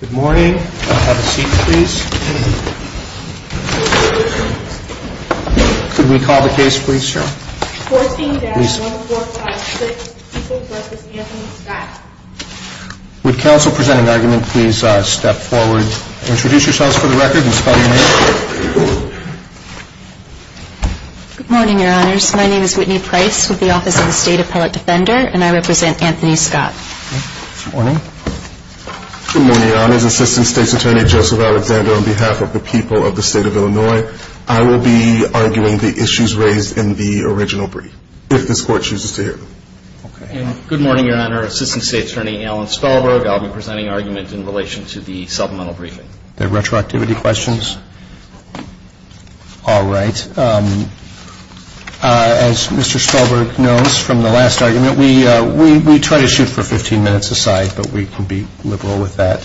Good morning, have a seat please. Could we call the case please, Cheryl? 14-1456-Equals v. Anthony Scott Would counsel presenting argument please step forward, introduce yourselves for the record, and spell your name? Good morning, your honors. My name is Whitney Price with the Office of the State Appellate Defender, and I represent Anthony Scott. Good morning. Good morning, your honors. Assistant State's Attorney Joseph Alexander on behalf of the people of the State of Illinois. I will be arguing the issues raised in the original brief, if this Court chooses to hear them. Good morning, your honor. Assistant State's Attorney Alan Spellberg. I'll be presenting argument in relation to the supplemental briefing. Are there retroactivity questions? All right. As Mr. Spellberg knows from the last argument, we try to shoot for 15 minutes a side, but we can be liberal with that.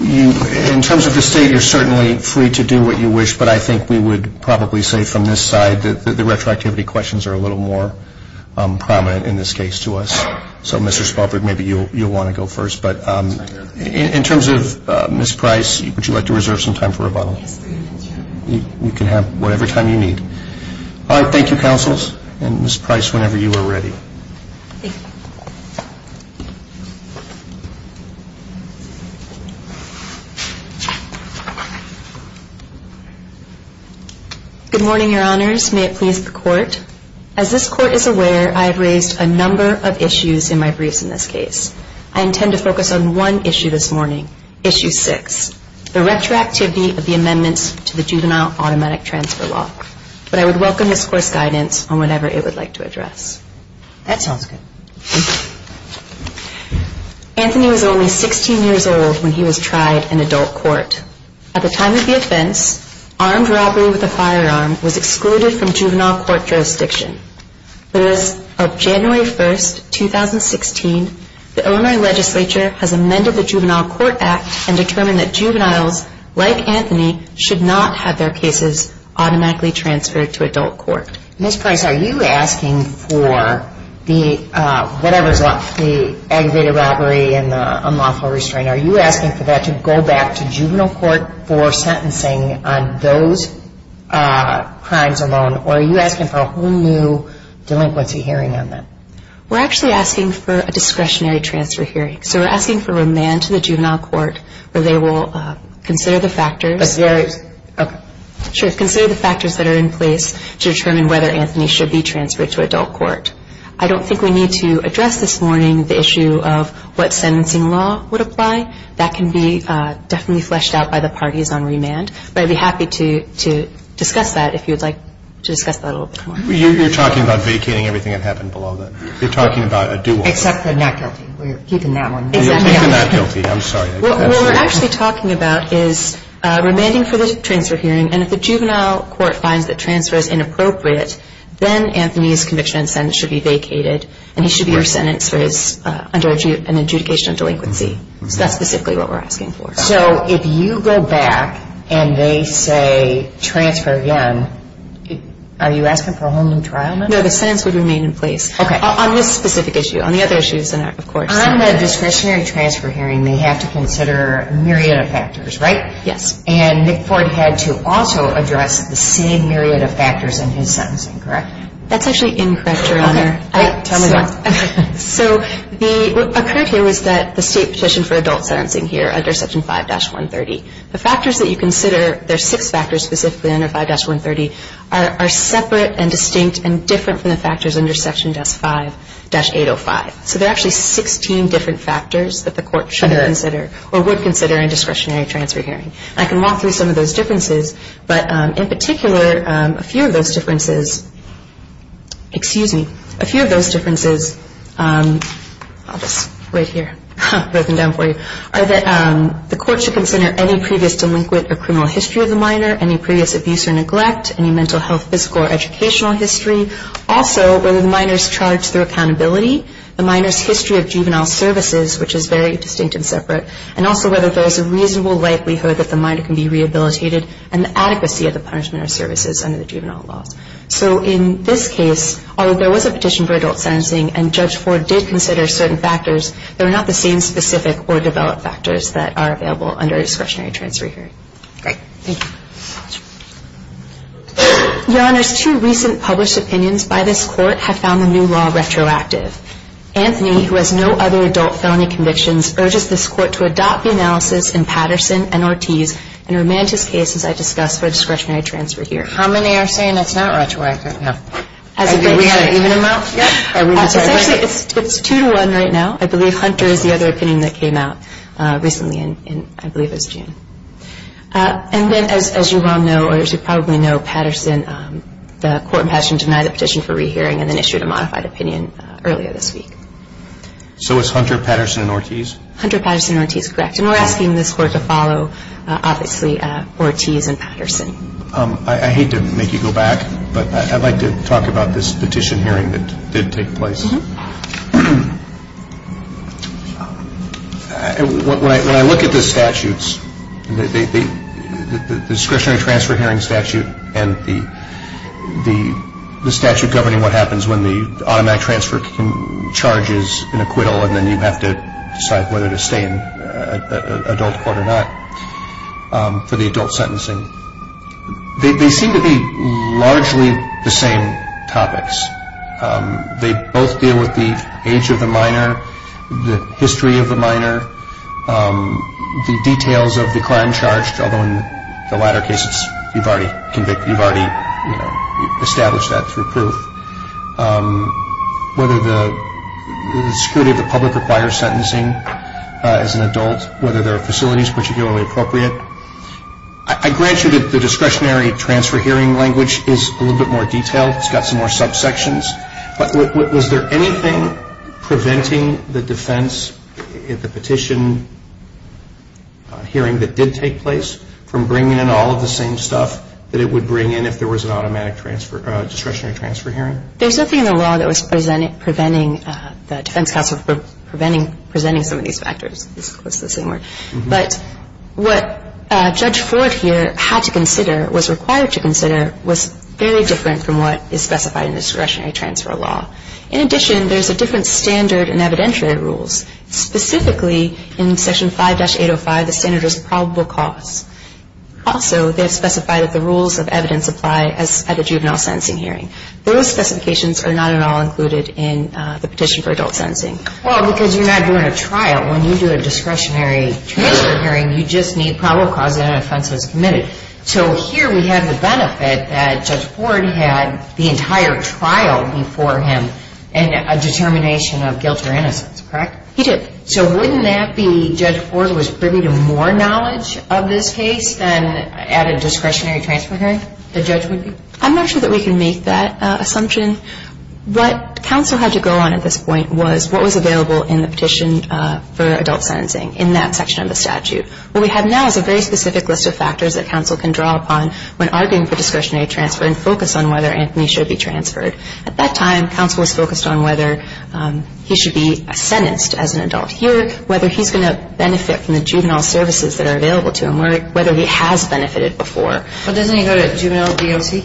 In terms of the State, you're certainly free to do what you wish, but I think we would probably say from this side that the retroactivity questions are a little more prominent in this case to us. So Mr. Spellberg, maybe you'll want to go first, but in terms of Ms. Price, would you like to reserve some time for rebuttal? You can have whatever time you need. All right. Thank you, counsels. And Ms. Price, whenever you are ready. Good morning, your honors. May it please the Court. As this Court is aware, I have raised a number of issues in my briefs in this case. I intend to focus on one issue this morning, Issue 6, the retroactivity of the amendments to the Juvenile Automatic Transfer Law. But I would welcome this Court's guidance on whatever it would like to address. That sounds good. Anthony was only 16 years old when he was tried in adult court. At the time of the offense, armed robbery with a firearm was excluded from juvenile court jurisdiction. But as of January 1, 2016, the Illinois legislature has amended the Juvenile Court Act and determined that juveniles like Anthony should not have their cases automatically transferred to adult court. Ms. Price, are you asking for the aggravated robbery and the unlawful restraint, are you asking for that to go back to juvenile court for sentencing on those crimes alone? Or are you asking for a whole new delinquency hearing on that? We're actually asking for a discretionary transfer hearing. So we're asking for remand to the juvenile court where they will consider the factors. Consider the factors that are in place to determine whether Anthony should be transferred to adult court. I don't think we need to address this morning the issue of what sentencing law would apply. That can be definitely fleshed out by the parties on remand. But I'd be happy to discuss that if you would like to discuss that a little bit more. You're talking about vacating everything that happened below that. You're talking about a dual. Except the not guilty. We're keeping that one. Keeping the not guilty. I'm sorry. What we're actually talking about is remanding for the transfer hearing. And if the juvenile court finds that transfer is inappropriate, then Anthony's conviction and sentence should be vacated. And he should be re-sentenced for an adjudication of delinquency. That's specifically what we're asking for. So if you go back and they say transfer again, are you asking for a whole new trial now? No, the sentence would remain in place. Okay. On this specific issue. On the other issues, of course. On the discretionary transfer hearing, they have to consider a myriad of factors, right? Yes. And Nick Ford had to also address the same myriad of factors in his sentencing, correct? That's actually incorrect, Your Honor. Tell me about it. So what occurred here was that the state petition for adult sentencing here under Section 5-130, the factors that you consider, there are six factors specifically under 5-130, are separate and distinct and different from the factors under Section 5-805. So there are actually 16 different factors that the court should consider or would consider in a discretionary transfer hearing. And I can walk through some of those differences, but in particular, a few of those differences, excuse me, a few of those differences, I'll just write here, write them down for you, are that the court should consider any previous delinquent or criminal history of the minor, any previous abuse or neglect, any mental health, physical, or educational history, also whether the minor is charged through accountability, the minor's history of juvenile services, which is very distinct and separate, and also whether there is a reasonable likelihood that the minor can be rehabilitated and the adequacy of the punishment or services under the juvenile laws. So in this case, although there was a petition for adult sentencing and Judge Ford did consider certain factors, there are not the same specific or developed factors that are available under a discretionary transfer hearing. Great. Thank you. Your Honors, two recent published opinions by this court have found the new law retroactive. Anthony, who has no other adult felony convictions, urges this court to adopt the analysis in Patterson and Ortiz and remand his case, as I discussed, for a discretionary transfer hearing. How many are saying it's not retroactive? We had an even amount? Essentially, it's 2-1 right now. I believe Hunter is the other opinion that came out recently in, I believe, it was June. And then, as you well know, or as you probably know, Patterson, the court in Patterson denied a petition for rehearing and then issued a modified opinion earlier this week. So it's Hunter, Patterson, and Ortiz? Hunter, Patterson, and Ortiz, correct. And we're asking this court to follow, obviously, Ortiz and Patterson. I hate to make you go back, but I'd like to talk about this petition hearing that did take place. When I look at the statutes, the discretionary transfer hearing statute and the statute governing what happens when the automatic transfer charges an acquittal and then you have to decide whether to stay in adult court or not for the adult sentencing, they seem to be largely the same topics. They both deal with the age of the minor, the history of the minor, the details of the crime charged, although in the latter cases you've already established that through proof, whether the security of the public requires sentencing as an adult, whether there are facilities particularly appropriate. I grant you that the discretionary transfer hearing language is a little bit more detailed. It's got some more subsections. But was there anything preventing the defense in the petition hearing that did take place from bringing in all of the same stuff that it would bring in if there was an automatic discretionary transfer hearing? There's nothing in the law that was preventing the defense counsel from presenting some of these factors. It's the same word. The discretionary transfer hearing was very different from what is specified in the discretionary transfer law. In addition, there's a different standard in evidentiary rules. Specifically in section 5-805, the standard was probable cause. Also, they have specified that the rules of evidence apply at the juvenile sentencing hearing. Those specifications are not at all included in the petition for adult sentencing. Well, because you're not doing a trial. When you do a discretionary transfer hearing, you just need probable cause and an offense was committed. So here we have the benefit that Judge Ford had the entire trial before him and a determination of guilt or innocence, correct? He did. So wouldn't that be Judge Ford was privy to more knowledge of this case than at a discretionary transfer hearing the judge would be? I'm not sure that we can make that assumption. What counsel had to go on at this point was what was available in the petition for adult sentencing in that section of the statute. What we have now is a very specific list of factors that counsel can draw upon when arguing for discretionary transfer and focus on whether Anthony should be transferred. At that time, counsel was focused on whether he should be sentenced as an adult here, whether he's going to benefit from the juvenile services that are available to him, or whether he has benefited before. But doesn't he go to juvenile DOC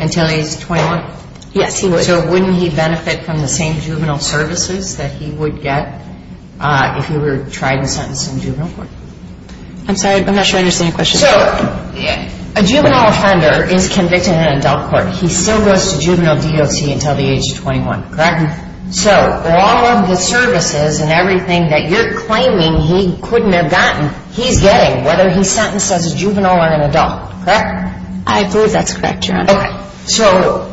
until he's 21? Yes, he would. So wouldn't he benefit from the same juvenile services that he would get if he were tried and sentenced in juvenile court? I'm sorry, I'm not sure I understand your question. So a juvenile offender is convicted in adult court. He still goes to juvenile DOC until the age of 21, correct? Correct. So all of the services and everything that you're claiming he couldn't have gotten, he's getting, whether he's sentenced as a juvenile or an adult, correct? I believe that's correct, Your Honor. Okay. So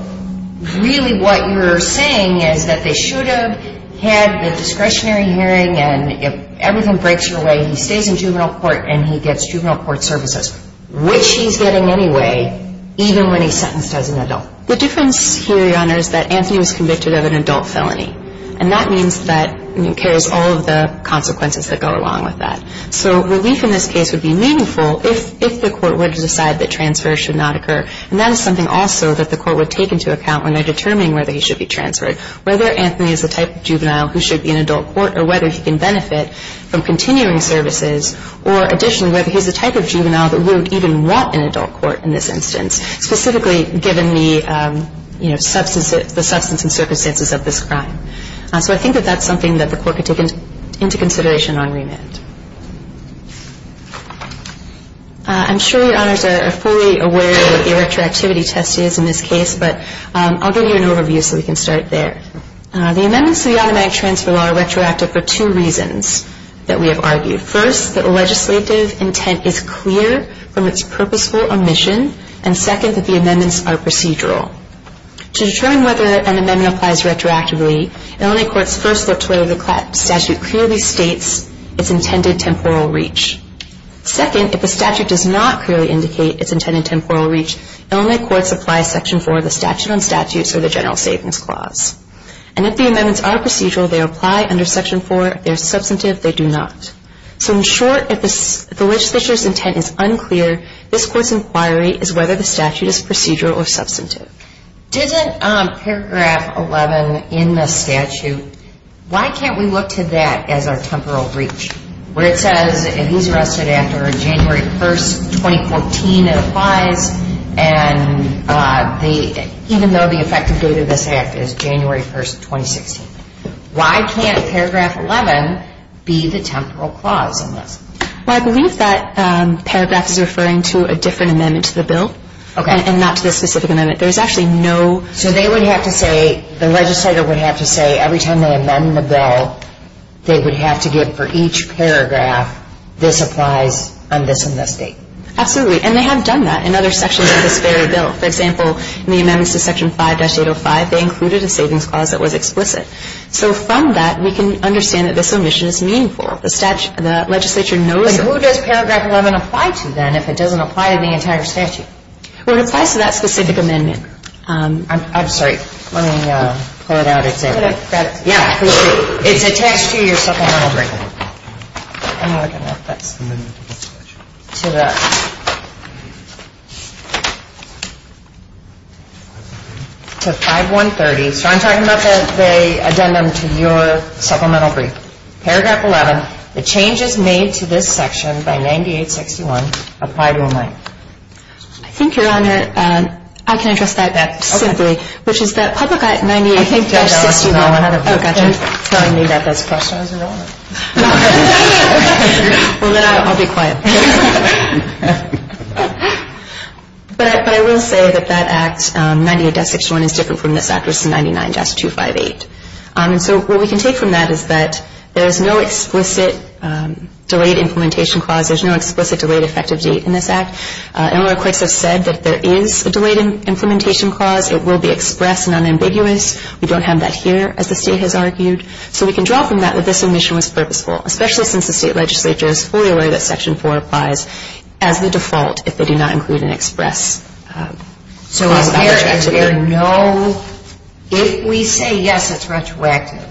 really what you're saying is that they should have had the discretionary hearing and if everything breaks your way, he stays in juvenile court and he gets juvenile court services, which he's getting anyway, even when he's sentenced as an adult. The difference here, Your Honor, is that Anthony was convicted of an adult felony, and that means that it carries all of the consequences that go along with that. So relief in this case would be meaningful if the court were to decide that transfer should not occur. And that is something also that the court would take into account when they're determining whether he should be transferred, whether Anthony is the type of juvenile who should be in adult court or whether he can benefit from continuing services, or additionally whether he's the type of juvenile that wouldn't even want an adult court in this instance, specifically given the substance and circumstances of this crime. So I think that that's something that the court could take into consideration on remand. I'm sure Your Honors are fully aware of what the retroactivity test is in this case, but I'll give you an overview so we can start there. The amendments to the automatic transfer law are retroactive for two reasons that we have argued. First, that the legislative intent is clear from its purposeful omission, and second, that the amendments are procedural. To determine whether an amendment applies retroactively, Illinois courts first look to whether the statute clearly states its intended temporal reach. Second, if the statute does not clearly indicate its intended temporal reach, Illinois courts apply Section 4 of the Statute on Statutes or the General Savings Clause. And if the amendments are procedural, they apply under Section 4. If they're substantive, they do not. So in short, if the legislature's intent is unclear, this court's inquiry is whether the statute is procedural or substantive. Isn't Paragraph 11 in the statute, why can't we look to that as our temporal reach? Where it says if he's arrested after January 1, 2014, it applies, and even though the effective date of this act is January 1, 2016. Why can't Paragraph 11 be the temporal clause in this? Well, I believe that paragraph is referring to a different amendment to the bill. Okay. And not to this specific amendment. There's actually no... So they would have to say, the legislator would have to say, every time they amend the bill, they would have to give for each paragraph, this applies on this and this date. Absolutely. And they have done that in other sections of this very bill. For example, in the amendments to Section 5-805, they included a savings clause that was explicit. So from that, we can understand that this omission is meaningful. The legislature knows... But who does Paragraph 11 apply to, then, if it doesn't apply to the entire statute? Well, it applies to that specific amendment. I'm sorry. Let me pull it out. Yeah. It's attached to your supplemental brief. I don't know if that's... To the... To 5-130. So I'm talking about the addendum to your supplemental brief. Paragraph 11, the changes made to this section by 98-61 apply to amendment. I think, Your Honor, I can address that simply, which is that Public Act 98-61... I think Judge Allison, I don't know how to... Oh, gotcha. You're telling me that that's pressed on as enrollment. Well, then I'll be quiet. But I will say that that Act 98-61 is different from this Act 99-258. And so what we can take from that is that there is no explicit delayed implementation clause. There's no explicit delayed effective date in this Act. And a lot of courts have said that there is a delayed implementation clause. It will be express and unambiguous. We don't have that here, as the State has argued. So we can draw from that that this omission was purposeful, especially since the State Legislature is fully aware that Section 4 applies as the default if they do not include an express clause. So is there no... If we say, yes, it's retroactive,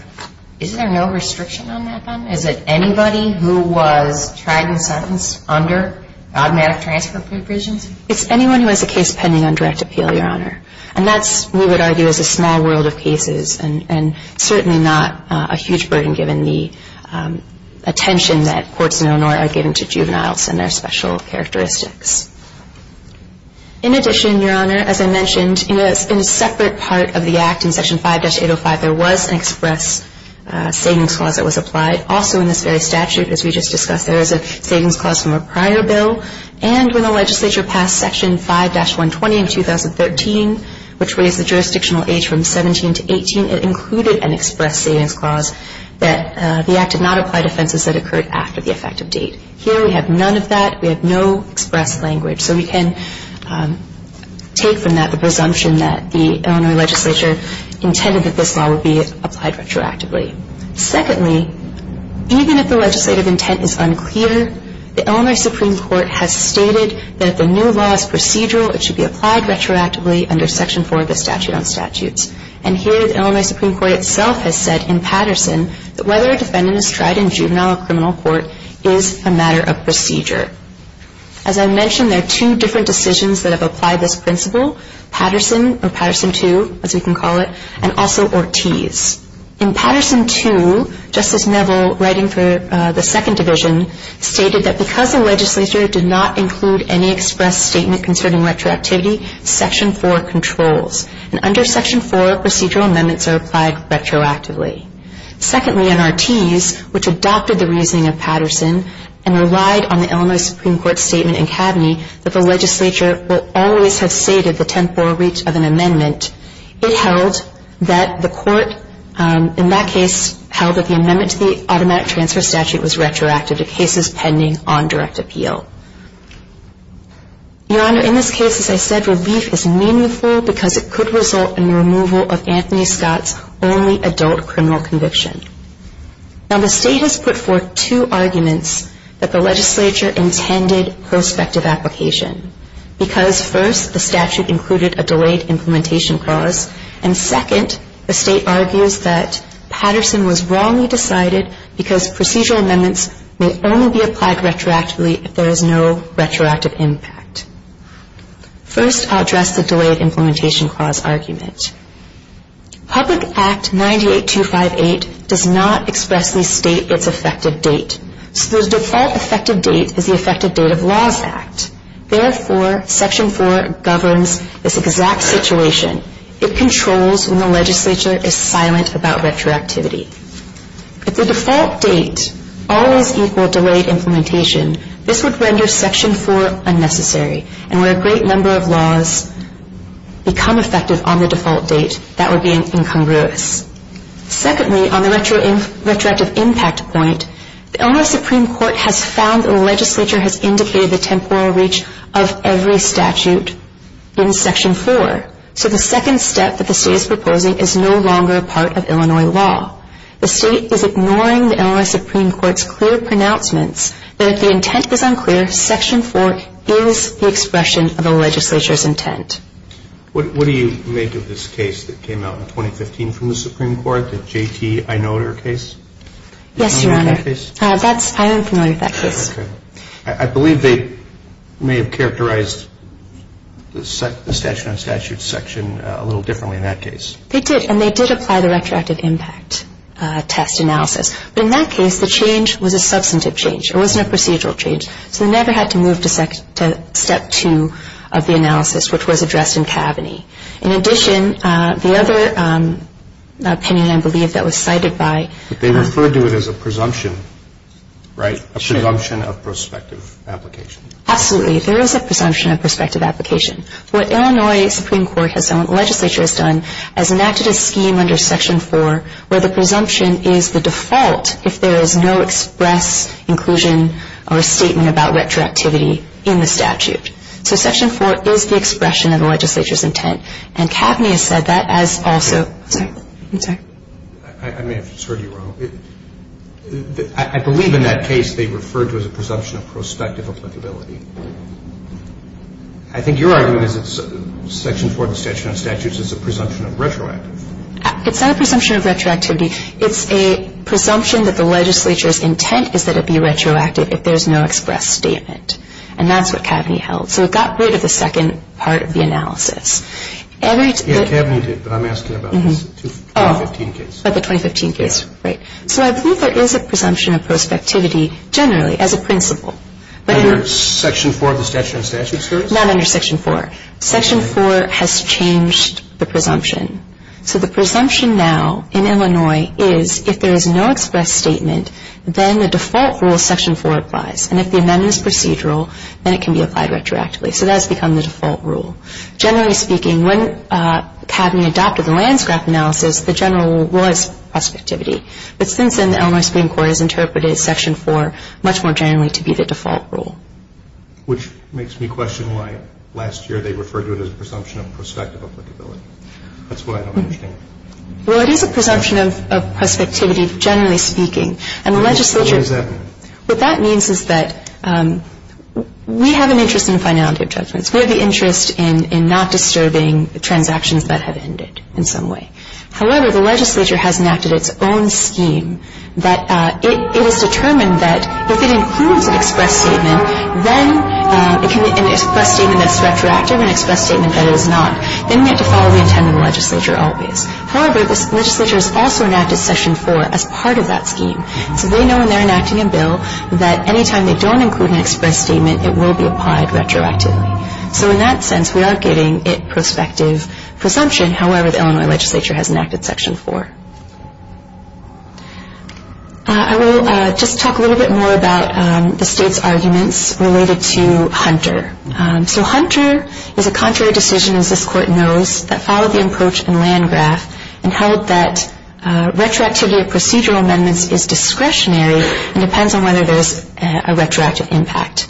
is there no restriction on that then? Is it anybody who was tried and sentenced under automatic transfer provisions? It's anyone who has a case pending on direct appeal, Your Honor. And that's, we would argue, is a small world of cases and certainly not a huge burden given the attention that courts in Illinois are giving to juveniles and their special characteristics. In addition, Your Honor, as I mentioned, in a separate part of the Act, in Section 5-805, there was an express savings clause that was applied. Also in this very statute, as we just discussed, there is a savings clause from a prior bill. And when the Legislature passed Section 5-120 in 2013, which raised the jurisdictional age from 17 to 18, it included an express savings clause that the Act did not apply to offenses that occurred after the effective date. Here we have none of that. We have no express language. So we can take from that the presumption that the Illinois Legislature intended that this law would be applied retroactively. Secondly, even if the legislative intent is unclear, the Illinois Supreme Court has stated that if a new law is procedural, it should be applied retroactively under Section 4 of the Statute on Statutes. And here the Illinois Supreme Court itself has said in Patterson that whether a defendant is tried in juvenile or criminal court is a matter of procedure. As I mentioned, there are two different decisions that have applied this principle, Patterson or Patterson 2, as we can call it, and also Ortiz. In Patterson 2, Justice Neville, writing for the Second Division, stated that because the Legislature did not include any express statement concerning retroactivity, Section 4 controls. And under Section 4, procedural amendments are applied retroactively. Secondly, in Ortiz, which adopted the reasoning of Patterson and relied on the Illinois Supreme Court's statement in Kavni that the Legislature will always have stated the temporeach of an amendment, it held that the Court, in that case, held that the amendment to the Automatic Transfer Statute was retroactive to cases pending on direct appeal. Your Honor, in this case, as I said, relief is meaningful because it could result in the removal of Anthony Scott's only adult criminal conviction. Now, the State has put forth two arguments that the Legislature intended prospective application, because first, the statute included a delayed implementation clause, and second, the State argues that Patterson was wrongly decided because procedural amendments may only be applied retroactively if there is no retroactive impact. First, I'll address the delayed implementation clause argument. Public Act 98258 does not expressly state its effective date, so the default effective date is the effective date of laws act. Therefore, Section 4 governs this exact situation. It controls when the Legislature is silent about retroactivity. If the default date always equaled delayed implementation, this would render Section 4 unnecessary, and where a great number of laws become effective on the default date, that would be incongruous. Secondly, on the retroactive impact point, the Illinois Supreme Court has found that the Legislature has indicated the temporal reach of every statute in Section 4, so the second step that the State is proposing is no longer a part of Illinois law. The State is ignoring the Illinois Supreme Court's clear pronouncements that if the intent is unclear, Section 4 is the expression of a Legislature's intent. What do you make of this case that came out in 2015 from the Supreme Court, the J.T. Einoder case? Yes, Your Honor. Do you know about that case? I am familiar with that case. Okay. I believe they may have characterized the statute on statute section a little differently in that case. They did, and they did apply the retroactive impact test analysis, but in that case, the change was a substantive change. It wasn't a procedural change, so they never had to move to Step 2 of the analysis, which was addressed in Kaveny. In addition, the other opinion, I believe, that was cited by… But they referred to it as a presumption, right? A presumption of prospective application. Absolutely. There is a presumption of prospective application. What Illinois Supreme Court has done, what the Legislature has done, is enacted a scheme under Section 4 where the presumption is the default if there is no express inclusion or statement about retroactivity in the statute. So Section 4 is the expression of the Legislature's intent. And Kaveny has said that as also… I'm sorry. I'm sorry. I may have just heard you wrong. I believe in that case they referred to it as a presumption of prospective applicability. I think your argument is that Section 4 of the Statute on Statutes is a presumption of retroactive. It's not a presumption of retroactivity. It's a presumption that the Legislature's intent is that it be retroactive if there is no express statement. And that's what Kaveny held. So it got rid of the second part of the analysis. Yeah, Kaveny did, but I'm asking about the 2015 case. Oh, about the 2015 case. Yeah. Right. So I believe there is a presumption of prospectivity generally as a principle. Under Section 4 of the Statute on Statutes? Not under Section 4. Section 4 has changed the presumption. So the presumption now in Illinois is if there is no express statement, then the default rule, Section 4, applies. And if the amendment is procedural, then it can be applied retroactively. So that has become the default rule. Generally speaking, when Kaveny adopted the landscrap analysis, the general rule was prospectivity. But since then, the Illinois Supreme Court has interpreted Section 4 much more generally to be the default rule. Which makes me question why last year they referred to it as a presumption of prospective applicability. That's what I don't understand. Well, it is a presumption of prospectivity, generally speaking. And the legislature What does that mean? What that means is that we have an interest in finality of judgments. We have an interest in not disturbing transactions that have ended in some way. However, the legislature has enacted its own scheme that it has determined that if it includes an express statement, then it can be an express statement that's retroactive, an express statement that is not. Then you have to follow the intent of the legislature always. However, this legislature has also enacted Section 4 as part of that scheme. So they know when they're enacting a bill that any time they don't include an express statement, it will be applied retroactively. So in that sense, we are getting a prospective presumption. However, the Illinois legislature has enacted Section 4. I will just talk a little bit more about the state's arguments related to Hunter. So Hunter is a contrary decision, as this Court knows, that followed the approach in Landgraf and held that retroactivity of procedural amendments is discretionary and depends on whether there's a retroactive impact.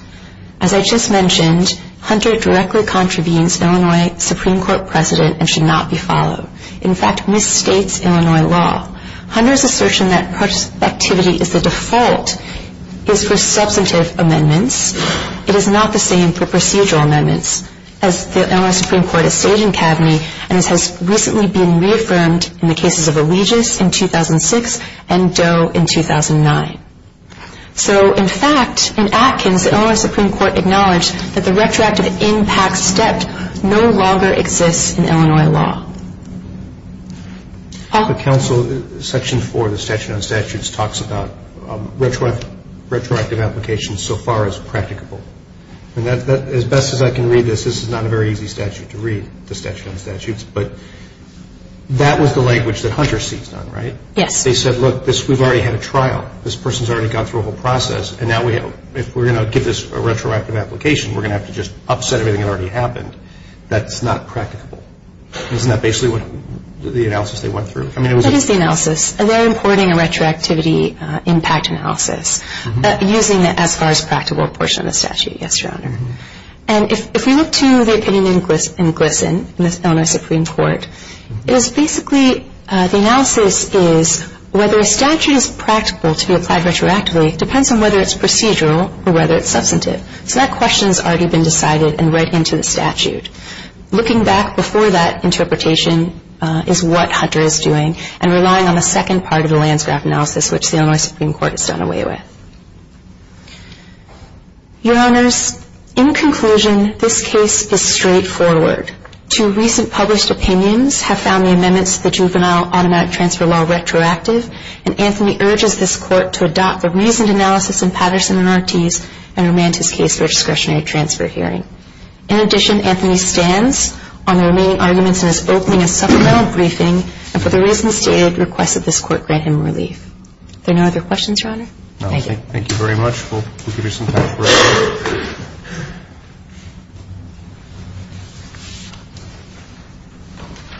As I just mentioned, Hunter directly contravenes Illinois Supreme Court precedent and should not be followed. In fact, misstates Illinois law. Hunter's assertion that prospectivity is the default is for substantive amendments. It is not the same for procedural amendments, as the Illinois Supreme Court is staging cabinet and this has recently been reaffirmed in the cases of Allegius in 2006 and Doe in 2009. So in fact, in Atkins, the Illinois Supreme Court acknowledged that the retroactive impact step no longer exists in Illinois law. The counsel, Section 4, the statute on statutes, talks about retroactive applications so far as practicable. As best as I can read this, this is not a very easy statute to read, the statute on statutes, but that was the language that Hunter seized on, right? Yes. They said, look, we've already had a trial. This person's already gone through a whole process and now if we're going to give this a retroactive application, we're going to have to just upset everything that already happened. That's not practicable. Isn't that basically what the analysis they went through? That is the analysis. They're importing a retroactivity impact analysis using the as far as practicable portion of the statute, yes, Your Honor. And if we look to the opinion in GLSEN, the Illinois Supreme Court, it is basically the analysis is whether a statute is practical to be applied retroactively depends on whether it's procedural or whether it's substantive. So that question has already been decided and read into the statute. Looking back before that interpretation is what Hunter is doing and relying on the second part of the Landsgraf analysis, which the Illinois Supreme Court has done away with. Your Honors, in conclusion, this case is straightforward. Two recent published opinions have found the amendments to the Juvenile Automatic Transfer Law retroactive and Anthony urges this Court to adopt the reasoned analysis in Patterson and Ortiz and remand his case for a discretionary transfer hearing. In addition, Anthony stands on the remaining arguments in his opening and supplemental briefing and for the reasons stated requests that this Court grant him relief. Are there no other questions, Your Honor? Thank you. Thank you very much. We'll give you some time for questions.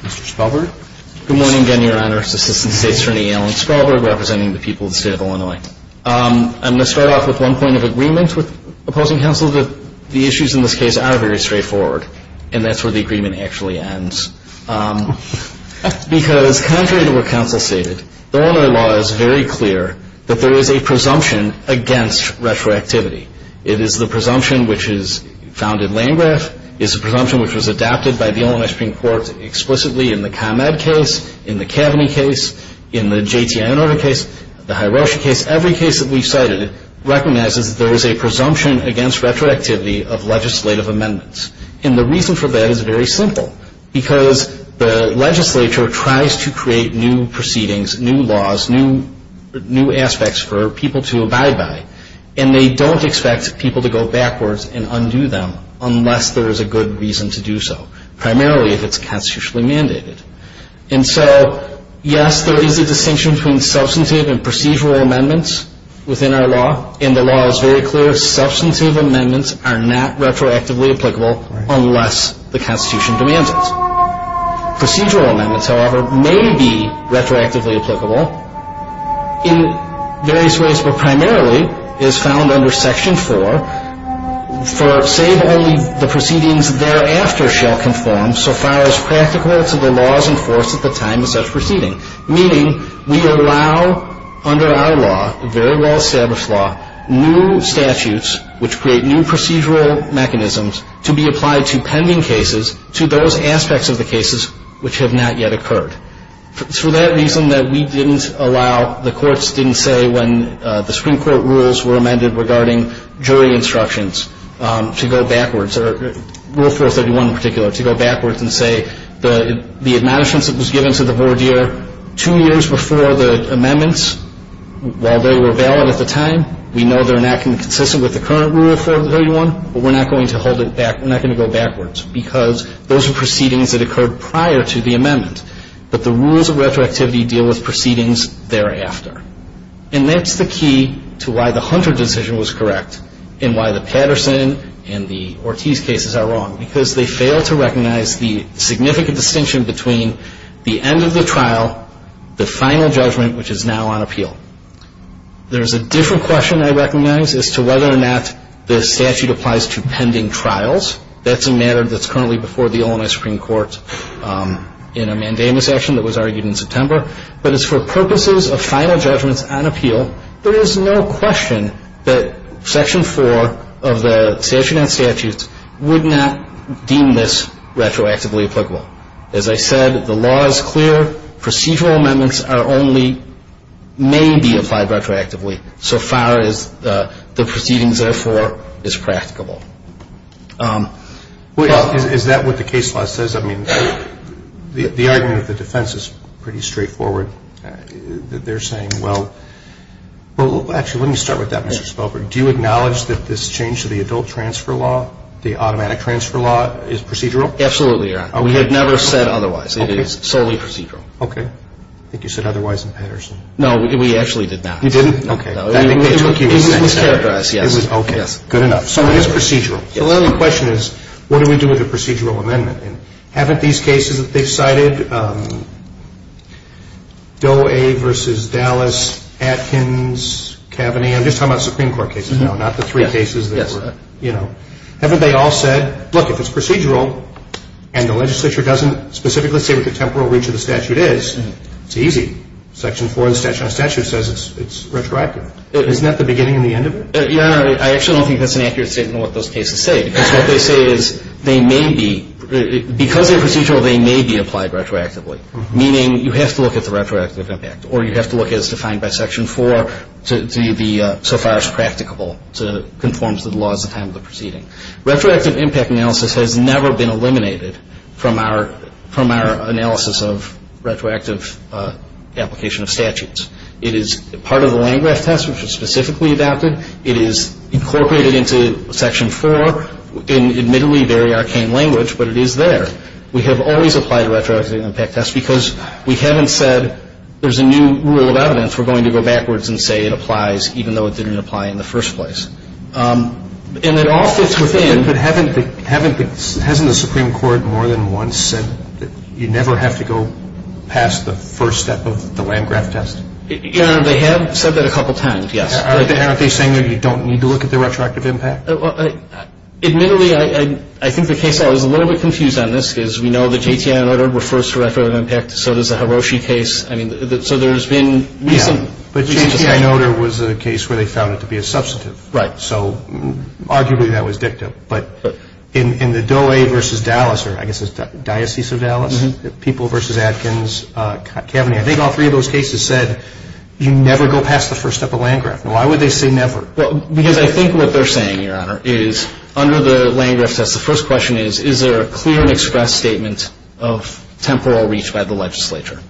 Mr. Spalberg. Good morning again, Your Honor. I'm going to start off with one point of agreement with opposing counsel that the issues in this case are very straightforward and that's where the agreement actually ends. Because contrary to what counsel stated, the Illinois law is very clear that there is a presumption against retroactivity. It is the presumption which is found in Landgraf. It is a presumption which was adopted by the Illinois Supreme Court explicitly in the ComEd case, in the Kaveny case, in the J.T. Inouye case, the Hiroshi case. Every case that we've cited recognizes there is a presumption against retroactivity of legislative amendments. And the reason for that is very simple, because the legislature tries to create new proceedings, new laws, new aspects for people to abide by, and they don't expect people to go backwards and undo them unless there is a good reason to do so, primarily if it's constitutionally mandated. And so, yes, there is a distinction between substantive and procedural amendments within our law, and the law is very clear, substantive amendments are not retroactively applicable unless the Constitution demands it. Procedural amendments, however, may be retroactively applicable in various ways, but primarily is found under Section 4 for save only the proceedings thereafter shall conform so far as practical to the laws enforced at the time of such proceeding, meaning we allow under our law, a very well-established law, new statutes which create new procedural mechanisms to be applied to pending cases to those aspects of the cases which have not yet occurred. For that reason that we didn't allow, the courts didn't say when the Supreme Court rules were amended regarding jury instructions to go backwards, or Rule 431 in particular, to go backwards and say the admonishments that was given to the voir dire two years before the amendments, while they were valid at the time, we know they're not going to be consistent with the current Rule 431, but we're not going to hold it back, we're not going to go backwards, because those are proceedings that occurred prior to the amendment. But the rules of retroactivity deal with proceedings thereafter. And that's the key to why the Hunter decision was correct, and why the Patterson and the Ortiz cases are wrong, because they fail to recognize the significant distinction between the end of the trial, the final judgment, which is now on appeal. There's a different question I recognize as to whether or not the statute applies to pending trials. That's a matter that's currently before the Illinois Supreme Court in a mandamus action that was argued in September. But as for purposes of final judgments on appeal, there is no question that Section 4 of the statute on statutes would not deem this retroactively applicable. As I said, the law is clear. Procedural amendments are only, may be applied retroactively, so far as the proceedings, therefore, is practicable. Well, is that what the case law says? I mean, the argument of the defense is pretty straightforward. They're saying, well, actually, let me start with that, Mr. Spelberg. Do you acknowledge that this change to the adult transfer law, the automatic transfer law, is procedural? Absolutely, Your Honor. We had never said otherwise. Okay. It is solely procedural. Okay. I think you said otherwise in Patterson. No, we actually did not. You didn't? No. Okay. It was characterized, yes. Okay. Good enough. So it is procedural. The only question is, what do we do with a procedural amendment? And haven't these cases that they've cited, Doe v. Dallas, Atkins, Kavanagh, I'm just talking about Supreme Court cases now, not the three cases that were, you know, haven't they all said, look, if it's procedural, and the legislature doesn't specifically say what the temporal reach of the statute is, it's easy. Section 4 of the statute on statutes says it's retroactive. Isn't that the beginning and the end of it? Your Honor, I actually don't think that's an accurate statement on what those cases say, because what they say is they may be, because they're procedural, they may be applied retroactively, meaning you have to look at the retroactive impact, or you have to look at it as defined by Section 4 to be so far as practicable, to conform to the laws at the time of the proceeding. Retroactive impact analysis has never been eliminated from our analysis of retroactive application of statutes. It is part of the Landgraf test, which was specifically adopted. It is incorporated into Section 4 in, admittedly, very arcane language, but it is there. We have always applied retroactive impact tests, because we haven't said there's a new rule of evidence. We're going to go backwards and say it applies, even though it didn't apply in the first place. And it all fits within. But haven't the, hasn't the Supreme Court more than once said that you never have to go past the first step of the Landgraf test? Your Honor, they have said that a couple times, yes. Aren't they saying that you don't need to look at the retroactive impact? Admittedly, I think the case law is a little bit confused on this, because we know that J.T.I. Notar refers to retroactive impact, so does the Hiroshi case. I mean, so there's been recent discussion. Yeah, but J.T.I. Notar was a case where they found it to be a substantive. Right. So arguably, that was dictum. But in the Doe versus Dallas, or I guess it's Diocese of Dallas, People versus Adkins, Kavanagh, I think all three of those cases said you never go past the first step of Landgraf. Why would they say never? Well, because I think what they're saying, Your Honor, is under the Landgraf test, the first question is, is there a clear and express statement of temporal reach by the legislature?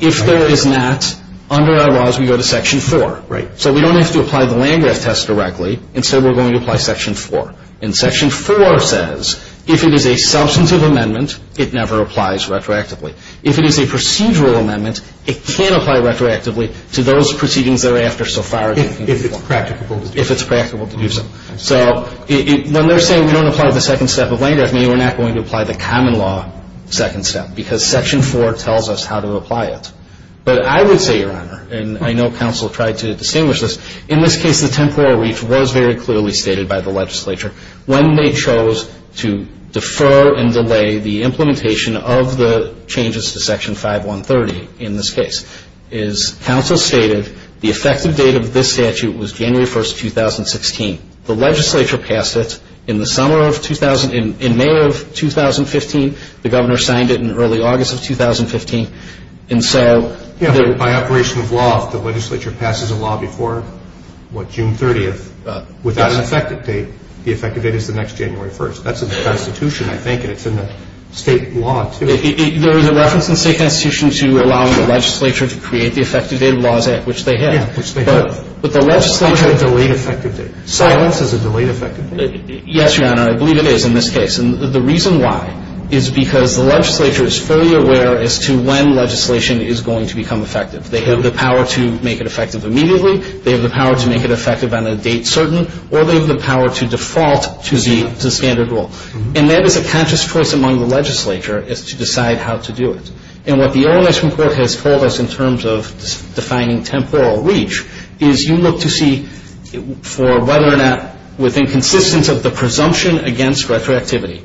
If there is not, under our laws, we go to Section 4. Right. So we don't have to apply the Landgraf test directly. Instead, we're going to apply Section 4. And Section 4 says if it is a substantive amendment, it never applies retroactively. If it is a procedural amendment, it can apply retroactively to those proceedings thereafter so far. If it's practicable to do so. If it's practicable to do so. So when they're saying we don't apply the second step of Landgraf, maybe we're not going to apply the common law second step, because Section 4 tells us how to apply it. But I would say, Your Honor, and I know counsel tried to distinguish this, in this case the temporal reach was very clearly stated by the legislature. When they chose to defer and delay the implementation of the changes to Section 5130, in this case, is counsel stated the effective date of this statute was January 1, 2016. The legislature passed it in the summer of 2000, in May of 2015. The governor signed it in early August of 2015. And so. By operation of law, if the legislature passes a law before, what, June 30th, without an effective date, the effective date is the next January 1st. That's in the Constitution, I think, and it's in the state law, too. There is a reference in the state constitution to allowing the legislature to create the effective date of laws, which they have. Yeah, which they have. But the legislature. It's a delayed effective date. Silence is a delayed effective date. Yes, Your Honor, I believe it is in this case. And the reason why is because the legislature is fully aware as to when legislation is going to become effective. They have the power to make it effective immediately. They have the power to make it effective on a date certain. Or they have the power to default to the standard rule. And that is a conscious choice among the legislature, is to decide how to do it. And what the OMS report has told us in terms of defining temporal reach is you look to see for whether or not within consistence of the presumption against retroactivity,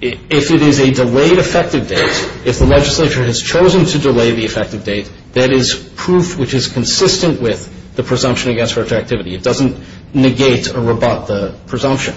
if it is a delayed effective date, if the legislature has chosen to delay the effective date, that is proof which is consistent with the presumption against retroactivity. It doesn't negate or rebut the presumption.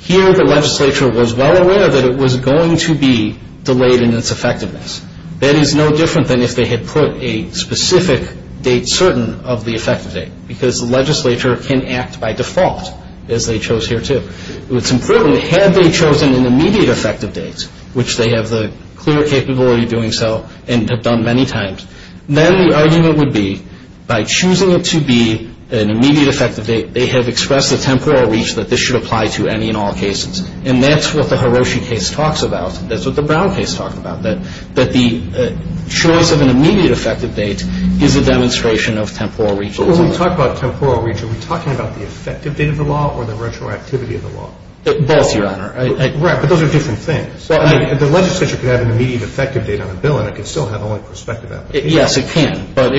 Here the legislature was well aware that it was going to be delayed in its effectiveness. That is no different than if they had put a specific date certain of the effective date, because the legislature can act by default, as they chose here too. It's important, had they chosen an immediate effective date, which they have the clear capability of doing so and have done many times, then the argument would be by choosing it to be an immediate effective date, they have expressed the temporal reach that this should apply to any and all cases. And that's what the Hiroshi case talks about. That's what the Brown case talked about, that the choice of an immediate effective date is a demonstration of temporal reach. So when we talk about temporal reach, are we talking about the effective date of the law or the retroactivity of the law? Both, Your Honor. Right. But those are different things. The legislature could have an immediate effective date on a bill and it could still have only prospective application. Yes, it can. But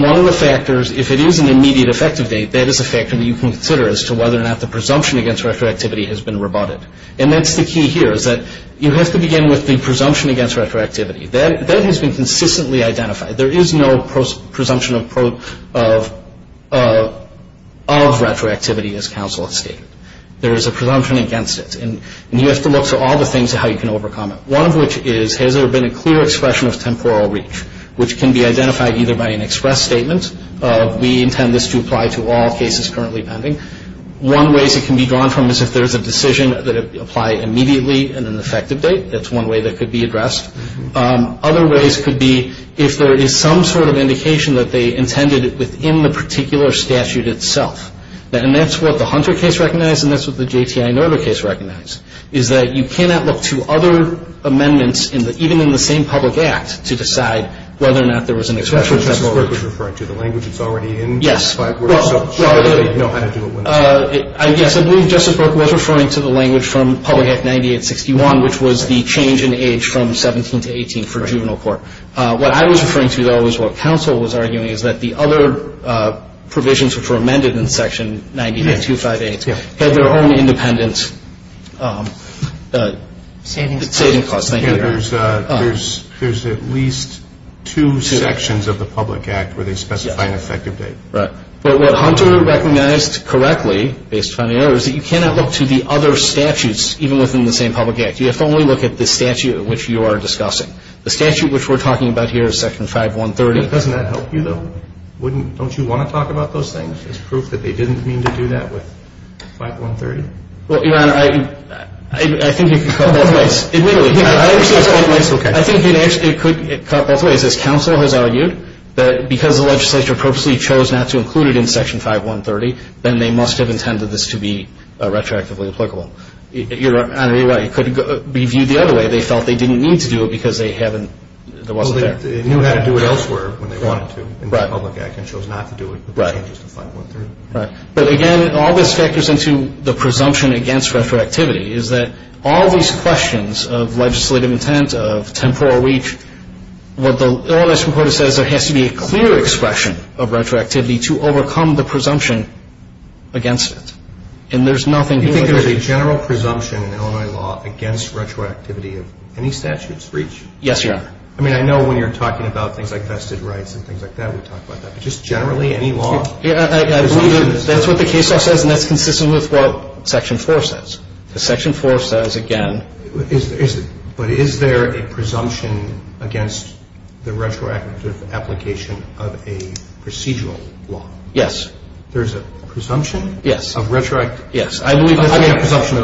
one of the factors, if it is an immediate effective date, that is a factor that you can consider as to whether or not the presumption against retroactivity has been rebutted. And that's the key here is that you have to begin with the presumption against retroactivity. That has been consistently identified. There is no presumption of retroactivity as counsel has stated. There is a presumption against it. And you have to look through all the things of how you can overcome it. One of which is, has there been a clear expression of temporal reach, which can be identified either by an express statement of, we intend this to apply to all cases currently pending. One way it can be drawn from is if there is a decision that applies immediately and an effective date. That's one way that could be addressed. Other ways could be if there is some sort of indication that they intended it within the particular statute itself. And that's what the Hunter case recognized and that's what the J.T.I. Noether case recognized, is that you cannot look to other amendments, even in the same public act, to decide whether or not there was an expression of temporal reach. That's what Justice Brook was referring to, the language that's already in? Yes. Well, I guess I believe Justice Brook was referring to the language from Public Act 9861, which was the change in age from 17 to 18 for juvenile court. What I was referring to, though, is what counsel was arguing, is that the other provisions which were amended in Section 98258 had their own independent saving costs. There's at least two sections of the public act where they specify an effective date. Right. But what Hunter recognized correctly, based on the errors, is that you cannot look to the other statutes, even within the same public act. You have to only look at the statute which you are discussing. The statute which we're talking about here is Section 5130. Doesn't that help you, though? Don't you want to talk about those things as proof that they didn't mean to do that with 5130? Well, Your Honor, I think it could go both ways. I think it could go both ways. As counsel has argued, because the legislature purposely chose not to include it in Section 5130, then they must have intended this to be retroactively applicable. Your Honor, you're right. It could be viewed the other way. They felt they didn't need to do it because there wasn't there. Well, they knew how to do it elsewhere when they wanted to in the public act and chose not to do it with the changes to 5130. Right. But, again, all this factors into the presumption against retroactivity, is that all these questions of legislative intent, of temporal reach, what the Illinois Supreme Court has said is there has to be a clear expression of retroactivity to overcome the presumption against it. And there's nothing here that they can't do. You think there's a general presumption in Illinois law against retroactivity of any statute's reach? Yes, Your Honor. I mean, I know when you're talking about things like vested rights and things like that, we talk about that. But just generally, any law? I believe that's what the case law says, and that's consistent with what Section 4 says. Because Section 4 says, again. But is there a presumption against the retroactive application of a procedural law? Yes. There's a presumption? Yes. Of retroactivity? Yes. I mean, a presumption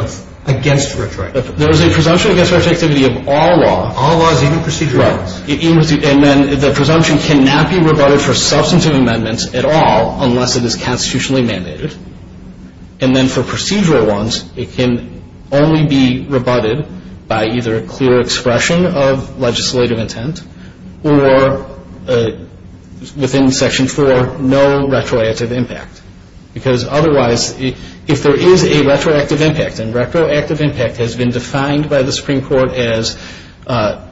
against retroactivity. There is a presumption against retroactivity of all laws. All laws, even procedural laws? Right. And then the presumption cannot be rebutted for substantive amendments at all unless it is constitutionally mandated. And then for procedural ones, it can only be rebutted by either a clear expression of legislative intent or within Section 4, no retroactive impact. Because otherwise, if there is a retroactive impact, and retroactive impact has been defined by the Supreme Court as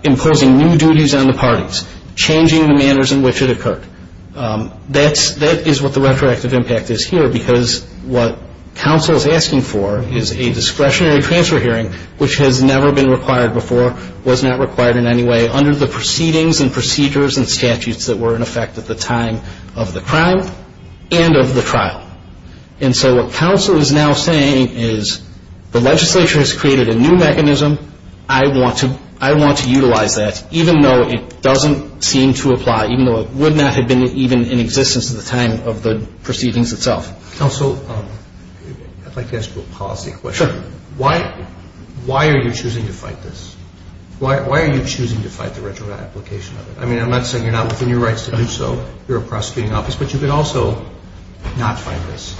imposing new duties on the parties, changing the manners in which it occurred. That is what the retroactive impact is here. Because what counsel is asking for is a discretionary transfer hearing, which has never been required before, was not required in any way under the proceedings and procedures and statutes that were in effect at the time of the crime and of the trial. And so what counsel is now saying is, the legislature has created a new mechanism. I want to utilize that, even though it doesn't seem to apply, even though it would not have been even in existence at the time of the proceedings itself. Counsel, I'd like to ask you a policy question. Sure. Why are you choosing to fight this? Why are you choosing to fight the retroactive application of it? I mean, I'm not saying you're not within your rights to do so. You're a prosecuting office. But you could also not fight this.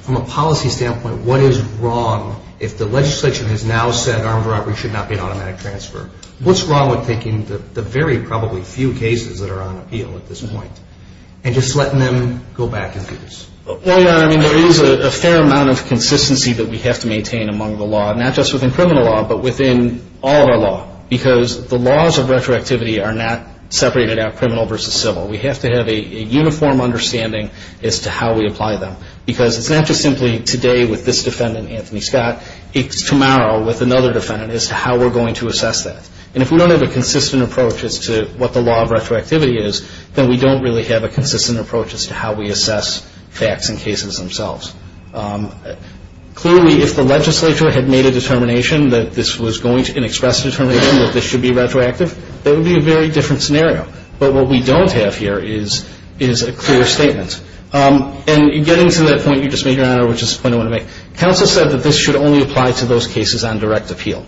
From a policy standpoint, what is wrong if the legislation has now said armed robbery should not be an automatic transfer? What's wrong with taking the very probably few cases that are on appeal at this point and just letting them go back and do this? Well, Your Honor, I mean, there is a fair amount of consistency that we have to maintain among the law, not just within criminal law, but within all of our law. Because the laws of retroactivity are not separated out criminal versus civil. We have to have a uniform understanding as to how we apply them. Because it's not just simply today with this defendant, Anthony Scott, it's tomorrow with another defendant as to how we're going to assess that. And if we don't have a consistent approach as to what the law of retroactivity is, then we don't really have a consistent approach as to how we assess facts and cases themselves. Clearly, if the legislature had made a determination that this was going to be an express determination that this should be retroactive, that would be a very different scenario. But what we don't have here is a clear statement. And getting to that point you just made, Your Honor, which is the point I want to make, counsel said that this should only apply to those cases on direct appeal.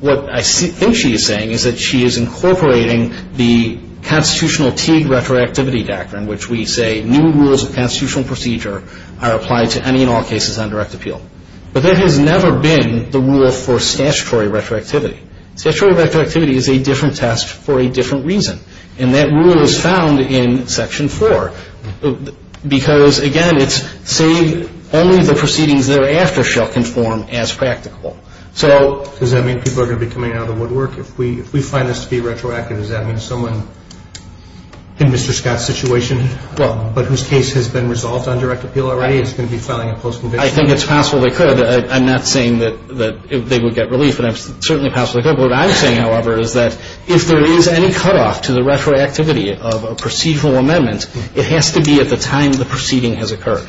What I think she is saying is that she is incorporating the constitutional Teague retroactivity doctrine, which we say new rules of constitutional procedure are applied to any and all cases on direct appeal. But that has never been the rule for statutory retroactivity. Statutory retroactivity is a different test for a different reason. And that rule is found in Section 4. Because, again, it's saying only the proceedings thereafter shall conform as practical. Does that mean people are going to be coming out of the woodwork? If we find this to be retroactive, does that mean someone in Mr. Scott's situation, but whose case has been resolved on direct appeal already is going to be filing a post-conviction? I think it's possible they could. I'm not saying that they would get relief, but it's certainly possible they could. What I'm saying, however, is that if there is any cutoff to the retroactivity of a procedural amendment, it has to be at the time the proceeding has occurred.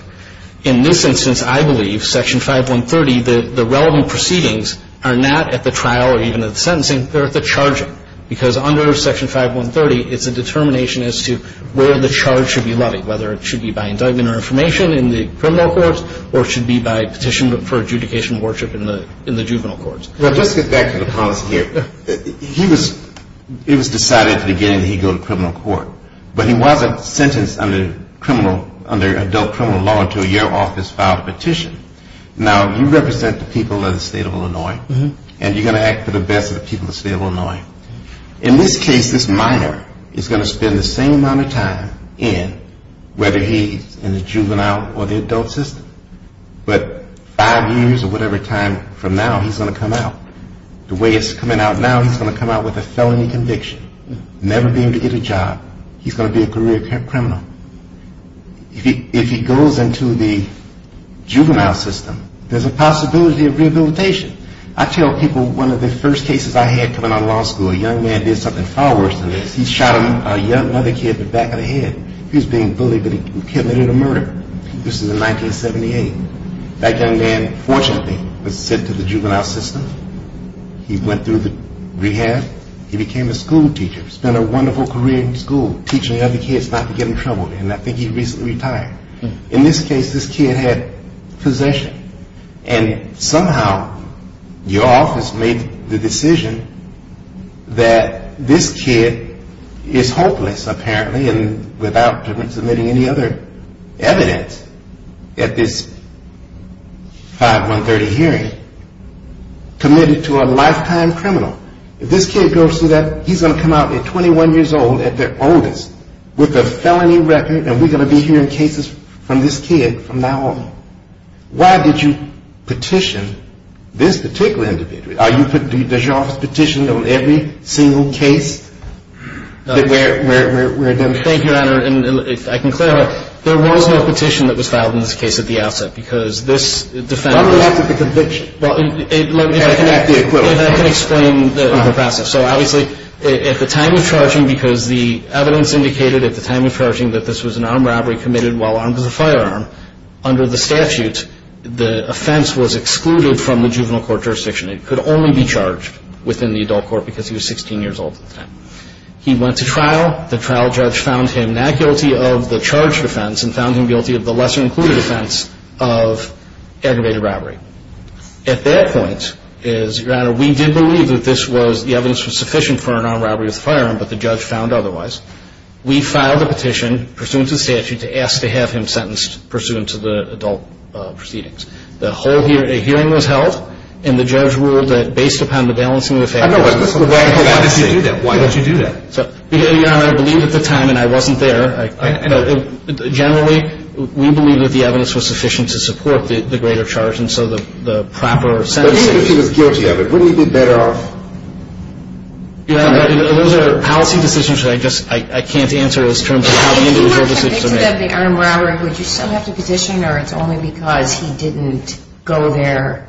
In this instance, I believe Section 5130, the relevant proceedings are not at the trial or even at the sentencing. They're at the charging. Because under Section 5130, it's a determination as to where the charge should be levied, whether it should be by indictment or information in the criminal courts or it should be by petition for adjudication of worship in the juvenile courts. Well, let's get back to the policy here. It was decided at the beginning he'd go to criminal court, but he wasn't sentenced under adult criminal law until your office filed a petition. Now, you represent the people of the state of Illinois, and you're going to act for the best of the people of the state of Illinois. In this case, this minor is going to spend the same amount of time in, whether he's in the juvenile or the adult system, but five years or whatever time from now, he's going to come out. The way it's coming out now, he's going to come out with a felony conviction, never be able to get a job. He's going to be a career criminal. If he goes into the juvenile system, there's a possibility of rehabilitation. I tell people one of the first cases I had coming out of law school, a young man did something far worse than this. He shot a young mother kid in the back of the head. He was being bullied, but he committed a murder. This was in 1978. That young man, fortunately, was sent to the juvenile system. He went through the rehab. He became a school teacher, spent a wonderful career in school, teaching other kids not to get in trouble, and I think he recently retired. In this case, this kid had possession, and somehow your office made the decision that this kid is hopeless, apparently, and without submitting any other evidence at this 5-1-30 hearing, committed to a lifetime criminal. If this kid goes through that, he's going to come out at 21 years old at their oldest with a felony record, and we're going to be hearing cases from this kid from now on. Why did you petition this particular individual? Does your office petition on every single case that we're identifying? Thank you, Your Honor, and if I can clarify, there was no petition that was filed in this case at the outset because this defendant— How did it affect the conviction? If I can explain the process. So obviously, at the time of charging, because the evidence indicated at the time of charging that this was an armed robbery committed while armed with a firearm, under the statute, the offense was excluded from the juvenile court jurisdiction. It could only be charged within the adult court because he was 16 years old at the time. He went to trial. The trial judge found him not guilty of the charged offense and found him guilty of the lesser-included offense of aggravated robbery. At that point, Your Honor, we did believe that the evidence was sufficient for an armed robbery with a firearm, but the judge found otherwise. We filed a petition pursuant to the statute to ask to have him sentenced pursuant to the adult proceedings. The whole hearing was held, and the judge ruled that, based upon the balancing of factors— I know, but this is a radical fantasy. Why did you do that? Why did you do that? Your Honor, I believe at the time, and I wasn't there— I know. Generally, we believe that the evidence was sufficient to support the greater charge, and so the proper sentencing— But even if he was guilty of it, wouldn't he be better off— Your Honor, those are policy decisions that I just — I can't answer as terms of how the individual decisions are made. Would you still have to petition, or it's only because he didn't go there,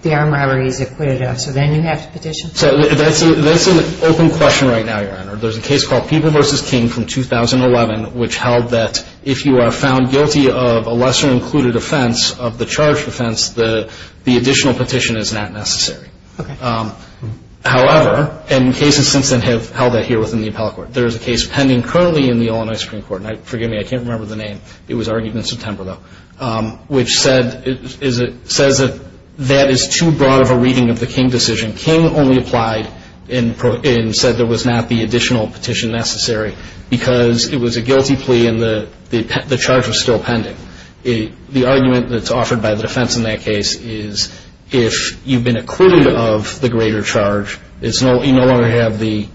the armed robbery he's acquitted of, so then you have to petition? That's an open question right now, Your Honor. There's a case called People v. King from 2011, which held that if you are found guilty of a lesser-included offense, of the charged offense, the additional petition is not necessary. Okay. However, and cases since then have held that here within the appellate court. There's a case pending currently in the Illinois Supreme Court, and forgive me, I can't remember the name. It was argued in September, though, which said that is too broad of a reading of the King decision. King only applied and said there was not the additional petition necessary because it was a guilty plea and the charge was still pending. The argument that's offered by the defense in that case is if you've been acquitted of the greater charge, you no longer have the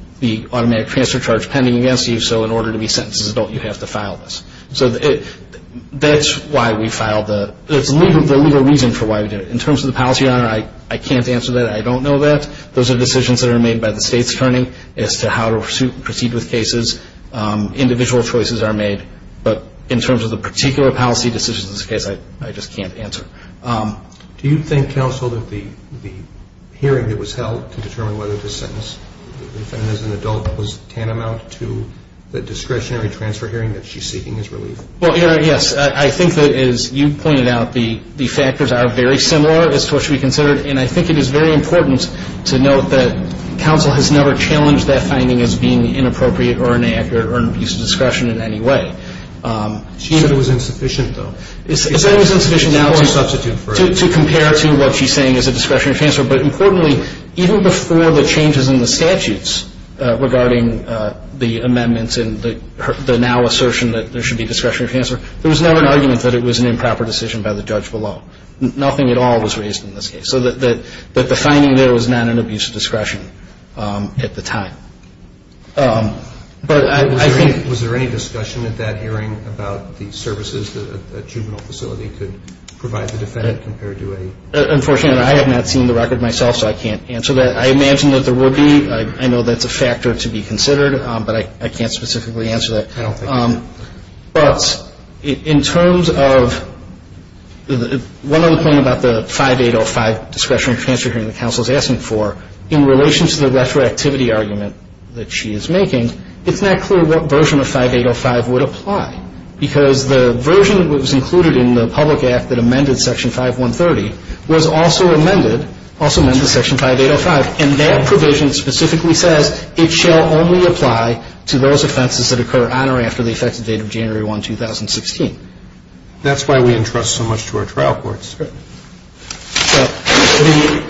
automatic transfer charge pending against you, so in order to be sentenced as an adult, you have to file this. So that's why we filed the, it's the legal reason for why we did it. In terms of the policy, Your Honor, I can't answer that. I don't know that. Those are decisions that are made by the state's attorney as to how to proceed with cases. Individual choices are made. But in terms of the particular policy decisions in this case, I just can't answer. Do you think, counsel, that the hearing that was held to determine whether to sentence the defendant as an adult was tantamount to the discretionary transfer hearing that she's seeking as relief? Well, Your Honor, yes. I think that, as you pointed out, the factors are very similar as to what should be considered, and I think it is very important to note that counsel has never challenged that finding as being inappropriate or inaccurate or an abuse of discretion in any way. She said it was insufficient, though. She said it was insufficient now to compare to what she's saying is a discretionary transfer, but importantly, even before the changes in the statutes regarding the amendments and the now assertion that there should be discretionary transfer, there was never an argument that it was an improper decision by the judge below. Nothing at all was raised in this case. So the finding there was not an abuse of discretion at the time. Was there any discussion at that hearing about the services that a juvenile facility could provide the defendant compared to a juvenile facility? Unfortunately, I have not seen the record myself, so I can't answer that. I imagine that there would be. I know that's a factor to be considered, but I can't specifically answer that. I don't think so. But in terms of one other point about the 5805 discretionary transfer hearing that counsel is asking for, in relation to the retroactivity argument that she is making, it's not clear what version of 5805 would apply, because the version that was included in the public act that amended Section 5130 was also amended to Section 5805, and that provision specifically says it shall only apply to those offenses that occur on or after the effective date of January 1, 2016. That's why we entrust so much to our trial courts.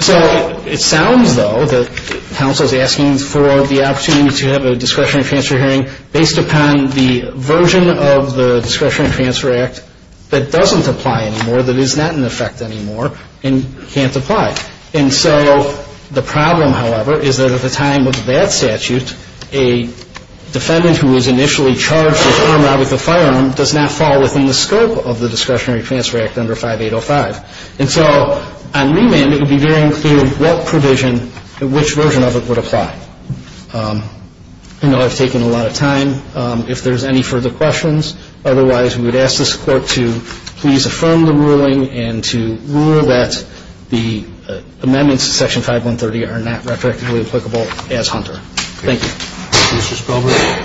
So it sounds, though, that counsel is asking for the opportunity to have a discretionary transfer hearing based upon the version of the Discretionary Transfer Act that doesn't apply anymore, that is not in effect anymore, and can't apply. And so the problem, however, is that at the time of that statute, a defendant who was initially charged with armed robbery with a firearm does not fall within the scope of the Discretionary Transfer Act under 5805. And so on remand, it would be very unclear what provision, which version of it would apply. I know I've taken a lot of time. If there's any further questions, otherwise, we would ask this Court to please affirm the ruling and to rule that the amendments to Section 5130 are not retroactively applicable as Hunter. Thank you. Mr. Spilberg.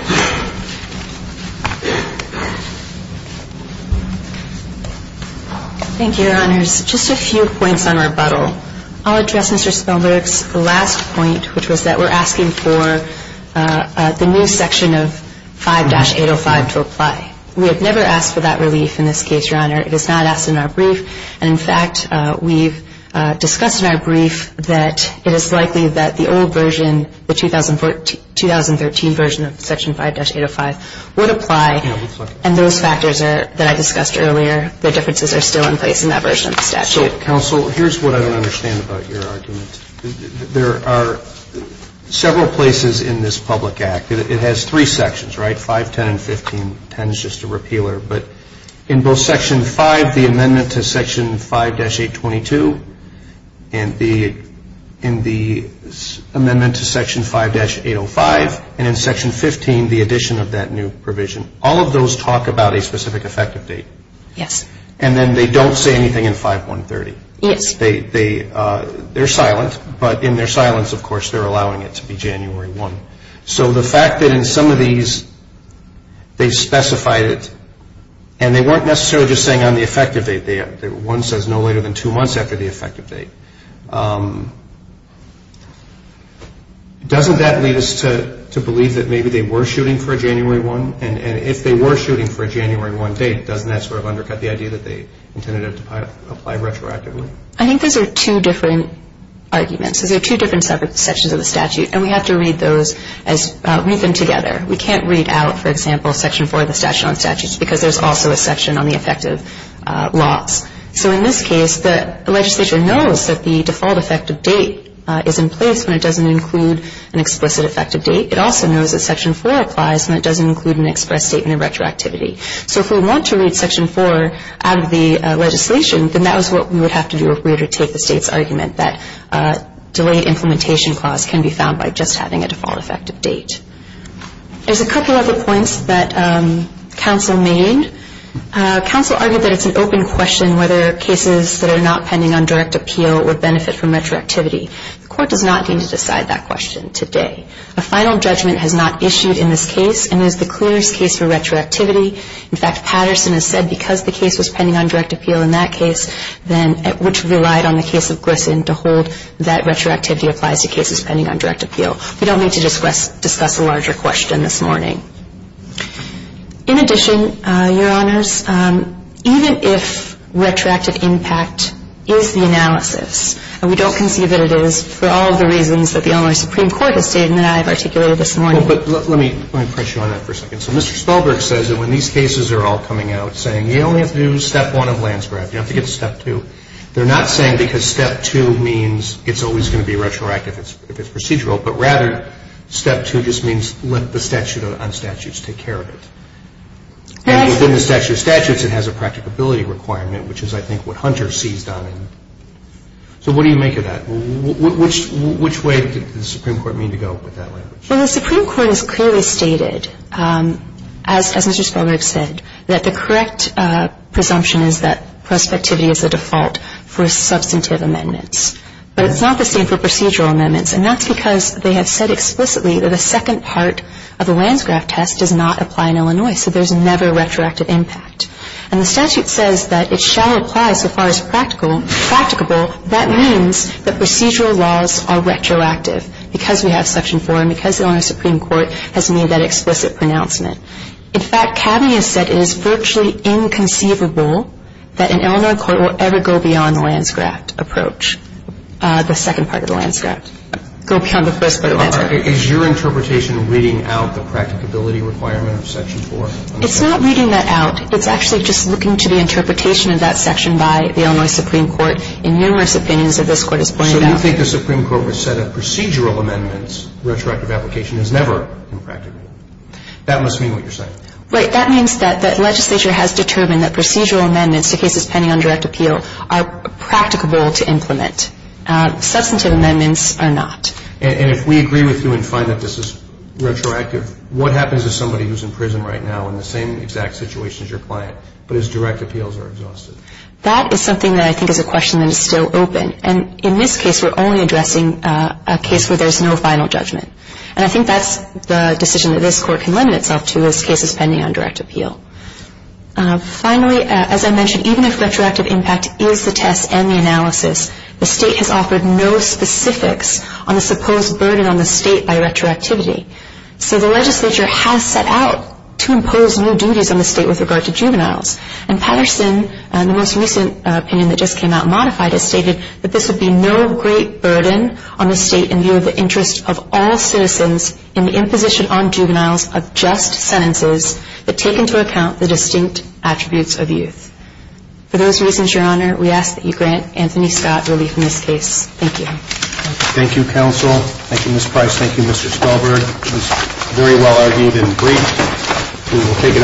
Thank you, Your Honors. Just a few points on rebuttal. I'll address Mr. Spilberg's last point, which was that we're asking for the new section of 5-805 to apply. We have never asked for that relief in this case, Your Honor. It is not asked in our brief. And, in fact, we've discussed in our brief that it is likely that the old version, the 2013 version of Section 5-805 would apply. And those factors that I discussed earlier, the differences are still in place in that version of the statute. So, counsel, here's what I don't understand about your argument. There are several places in this public act. It has three sections, right, 5, 10, and 15. Ten is just a repealer. But in both Section 5, the amendment to Section 5-822, and the amendment to Section 5-805, and in Section 15, the addition of that new provision, all of those talk about a specific effective date. Yes. And then they don't say anything in 5-130. Yes. They're silent. But in their silence, of course, they're allowing it to be January 1. So the fact that in some of these, they specified it, and they weren't necessarily just saying on the effective date. One says no later than two months after the effective date. Doesn't that lead us to believe that maybe they were shooting for a January 1? And if they were shooting for a January 1 date, doesn't that sort of undercut the idea that they intended it to apply retroactively? I think those are two different arguments. So there are two different sections of the statute, and we have to read them together. We can't read out, for example, Section 4 of the statute on statutes because there's also a section on the effective laws. So in this case, the legislature knows that the default effective date is in place when it doesn't include an explicit effective date. It also knows that Section 4 applies when it doesn't include an express statement of retroactivity. So if we want to read Section 4 out of the legislation, then that was what we would have to do if we were to take the State's argument that delayed implementation clause can be found by just having a default effective date. There's a couple other points that counsel made. Counsel argued that it's an open question whether cases that are not pending on direct appeal would benefit from retroactivity. The Court does not need to decide that question today. A final judgment has not issued in this case and is the clearest case for retroactivity. In fact, Patterson has said because the case was pending on direct appeal in that case, which relied on the case of Grissom to hold, that retroactivity applies to cases pending on direct appeal. We don't need to discuss a larger question this morning. In addition, Your Honors, even if retroactive impact is the analysis, and we don't conceive that it is for all of the reasons that the Illinois Supreme Court has stated and that I have articulated this morning. Well, but let me press you on that for a second. So Mr. Spellberg says that when these cases are all coming out, saying, you only have to do step one of Landsgraf, you don't have to get to step two. They're not saying because step two means it's always going to be retroactive if it's procedural, but rather step two just means let the statute on statutes take care of it. And within the statute of statutes, it has a practicability requirement, which is I think what Hunter seized on. So what do you make of that? Which way did the Supreme Court mean to go with that language? Well, the Supreme Court has clearly stated, as Mr. Spellberg said, that the correct presumption is that prospectivity is the default for substantive amendments. But it's not the same for procedural amendments, and that's because they have said explicitly that a second part of the Landsgraf test does not apply in Illinois, so there's never retroactive impact. And the statute says that it shall apply so far as practicable. That means that procedural laws are retroactive because we have Section 4 and because the Illinois Supreme Court has made that explicit pronouncement. In fact, Cabney has said it is virtually inconceivable that an Illinois court will ever go beyond the Landsgraf approach, the second part of the Landsgraf, go beyond the first part of the Landsgraf. Is your interpretation reading out the practicability requirement of Section 4? It's not reading that out. It's actually just looking to the interpretation of that section by the Illinois Supreme Court in numerous opinions that this Court has pointed out. So you think the Supreme Court would set up procedural amendments, retroactive application is never impracticable. That must mean what you're saying. Right. That means that legislature has determined that procedural amendments to cases pending on direct appeal are practicable to implement. Substantive amendments are not. And if we agree with you and find that this is retroactive, what happens to somebody who's in prison right now in the same exact situation as your client but whose direct appeals are exhausted? That is something that I think is a question that is still open. And in this case, we're only addressing a case where there's no final judgment. And I think that's the decision that this Court can lend itself to as cases pending on direct appeal. Finally, as I mentioned, even if retroactive impact is the test and the analysis, the State has offered no specifics on the supposed burden on the State by retroactivity. So the legislature has set out to impose new duties on the State with regard to juveniles. And Patterson, in the most recent opinion that just came out, modified it, stated that this would be no great burden on the State in view of the interest of all citizens in the imposition on juveniles of just sentences that take into account the distinct attributes of youth. For those reasons, Your Honor, we ask that you grant Anthony Scott relief in this case. Thank you. Thank you, counsel. Thank you, Ms. Price. Thank you, Mr. Stolberg. It was very well-argued and brief. We will take it under advisement and stand adjourned.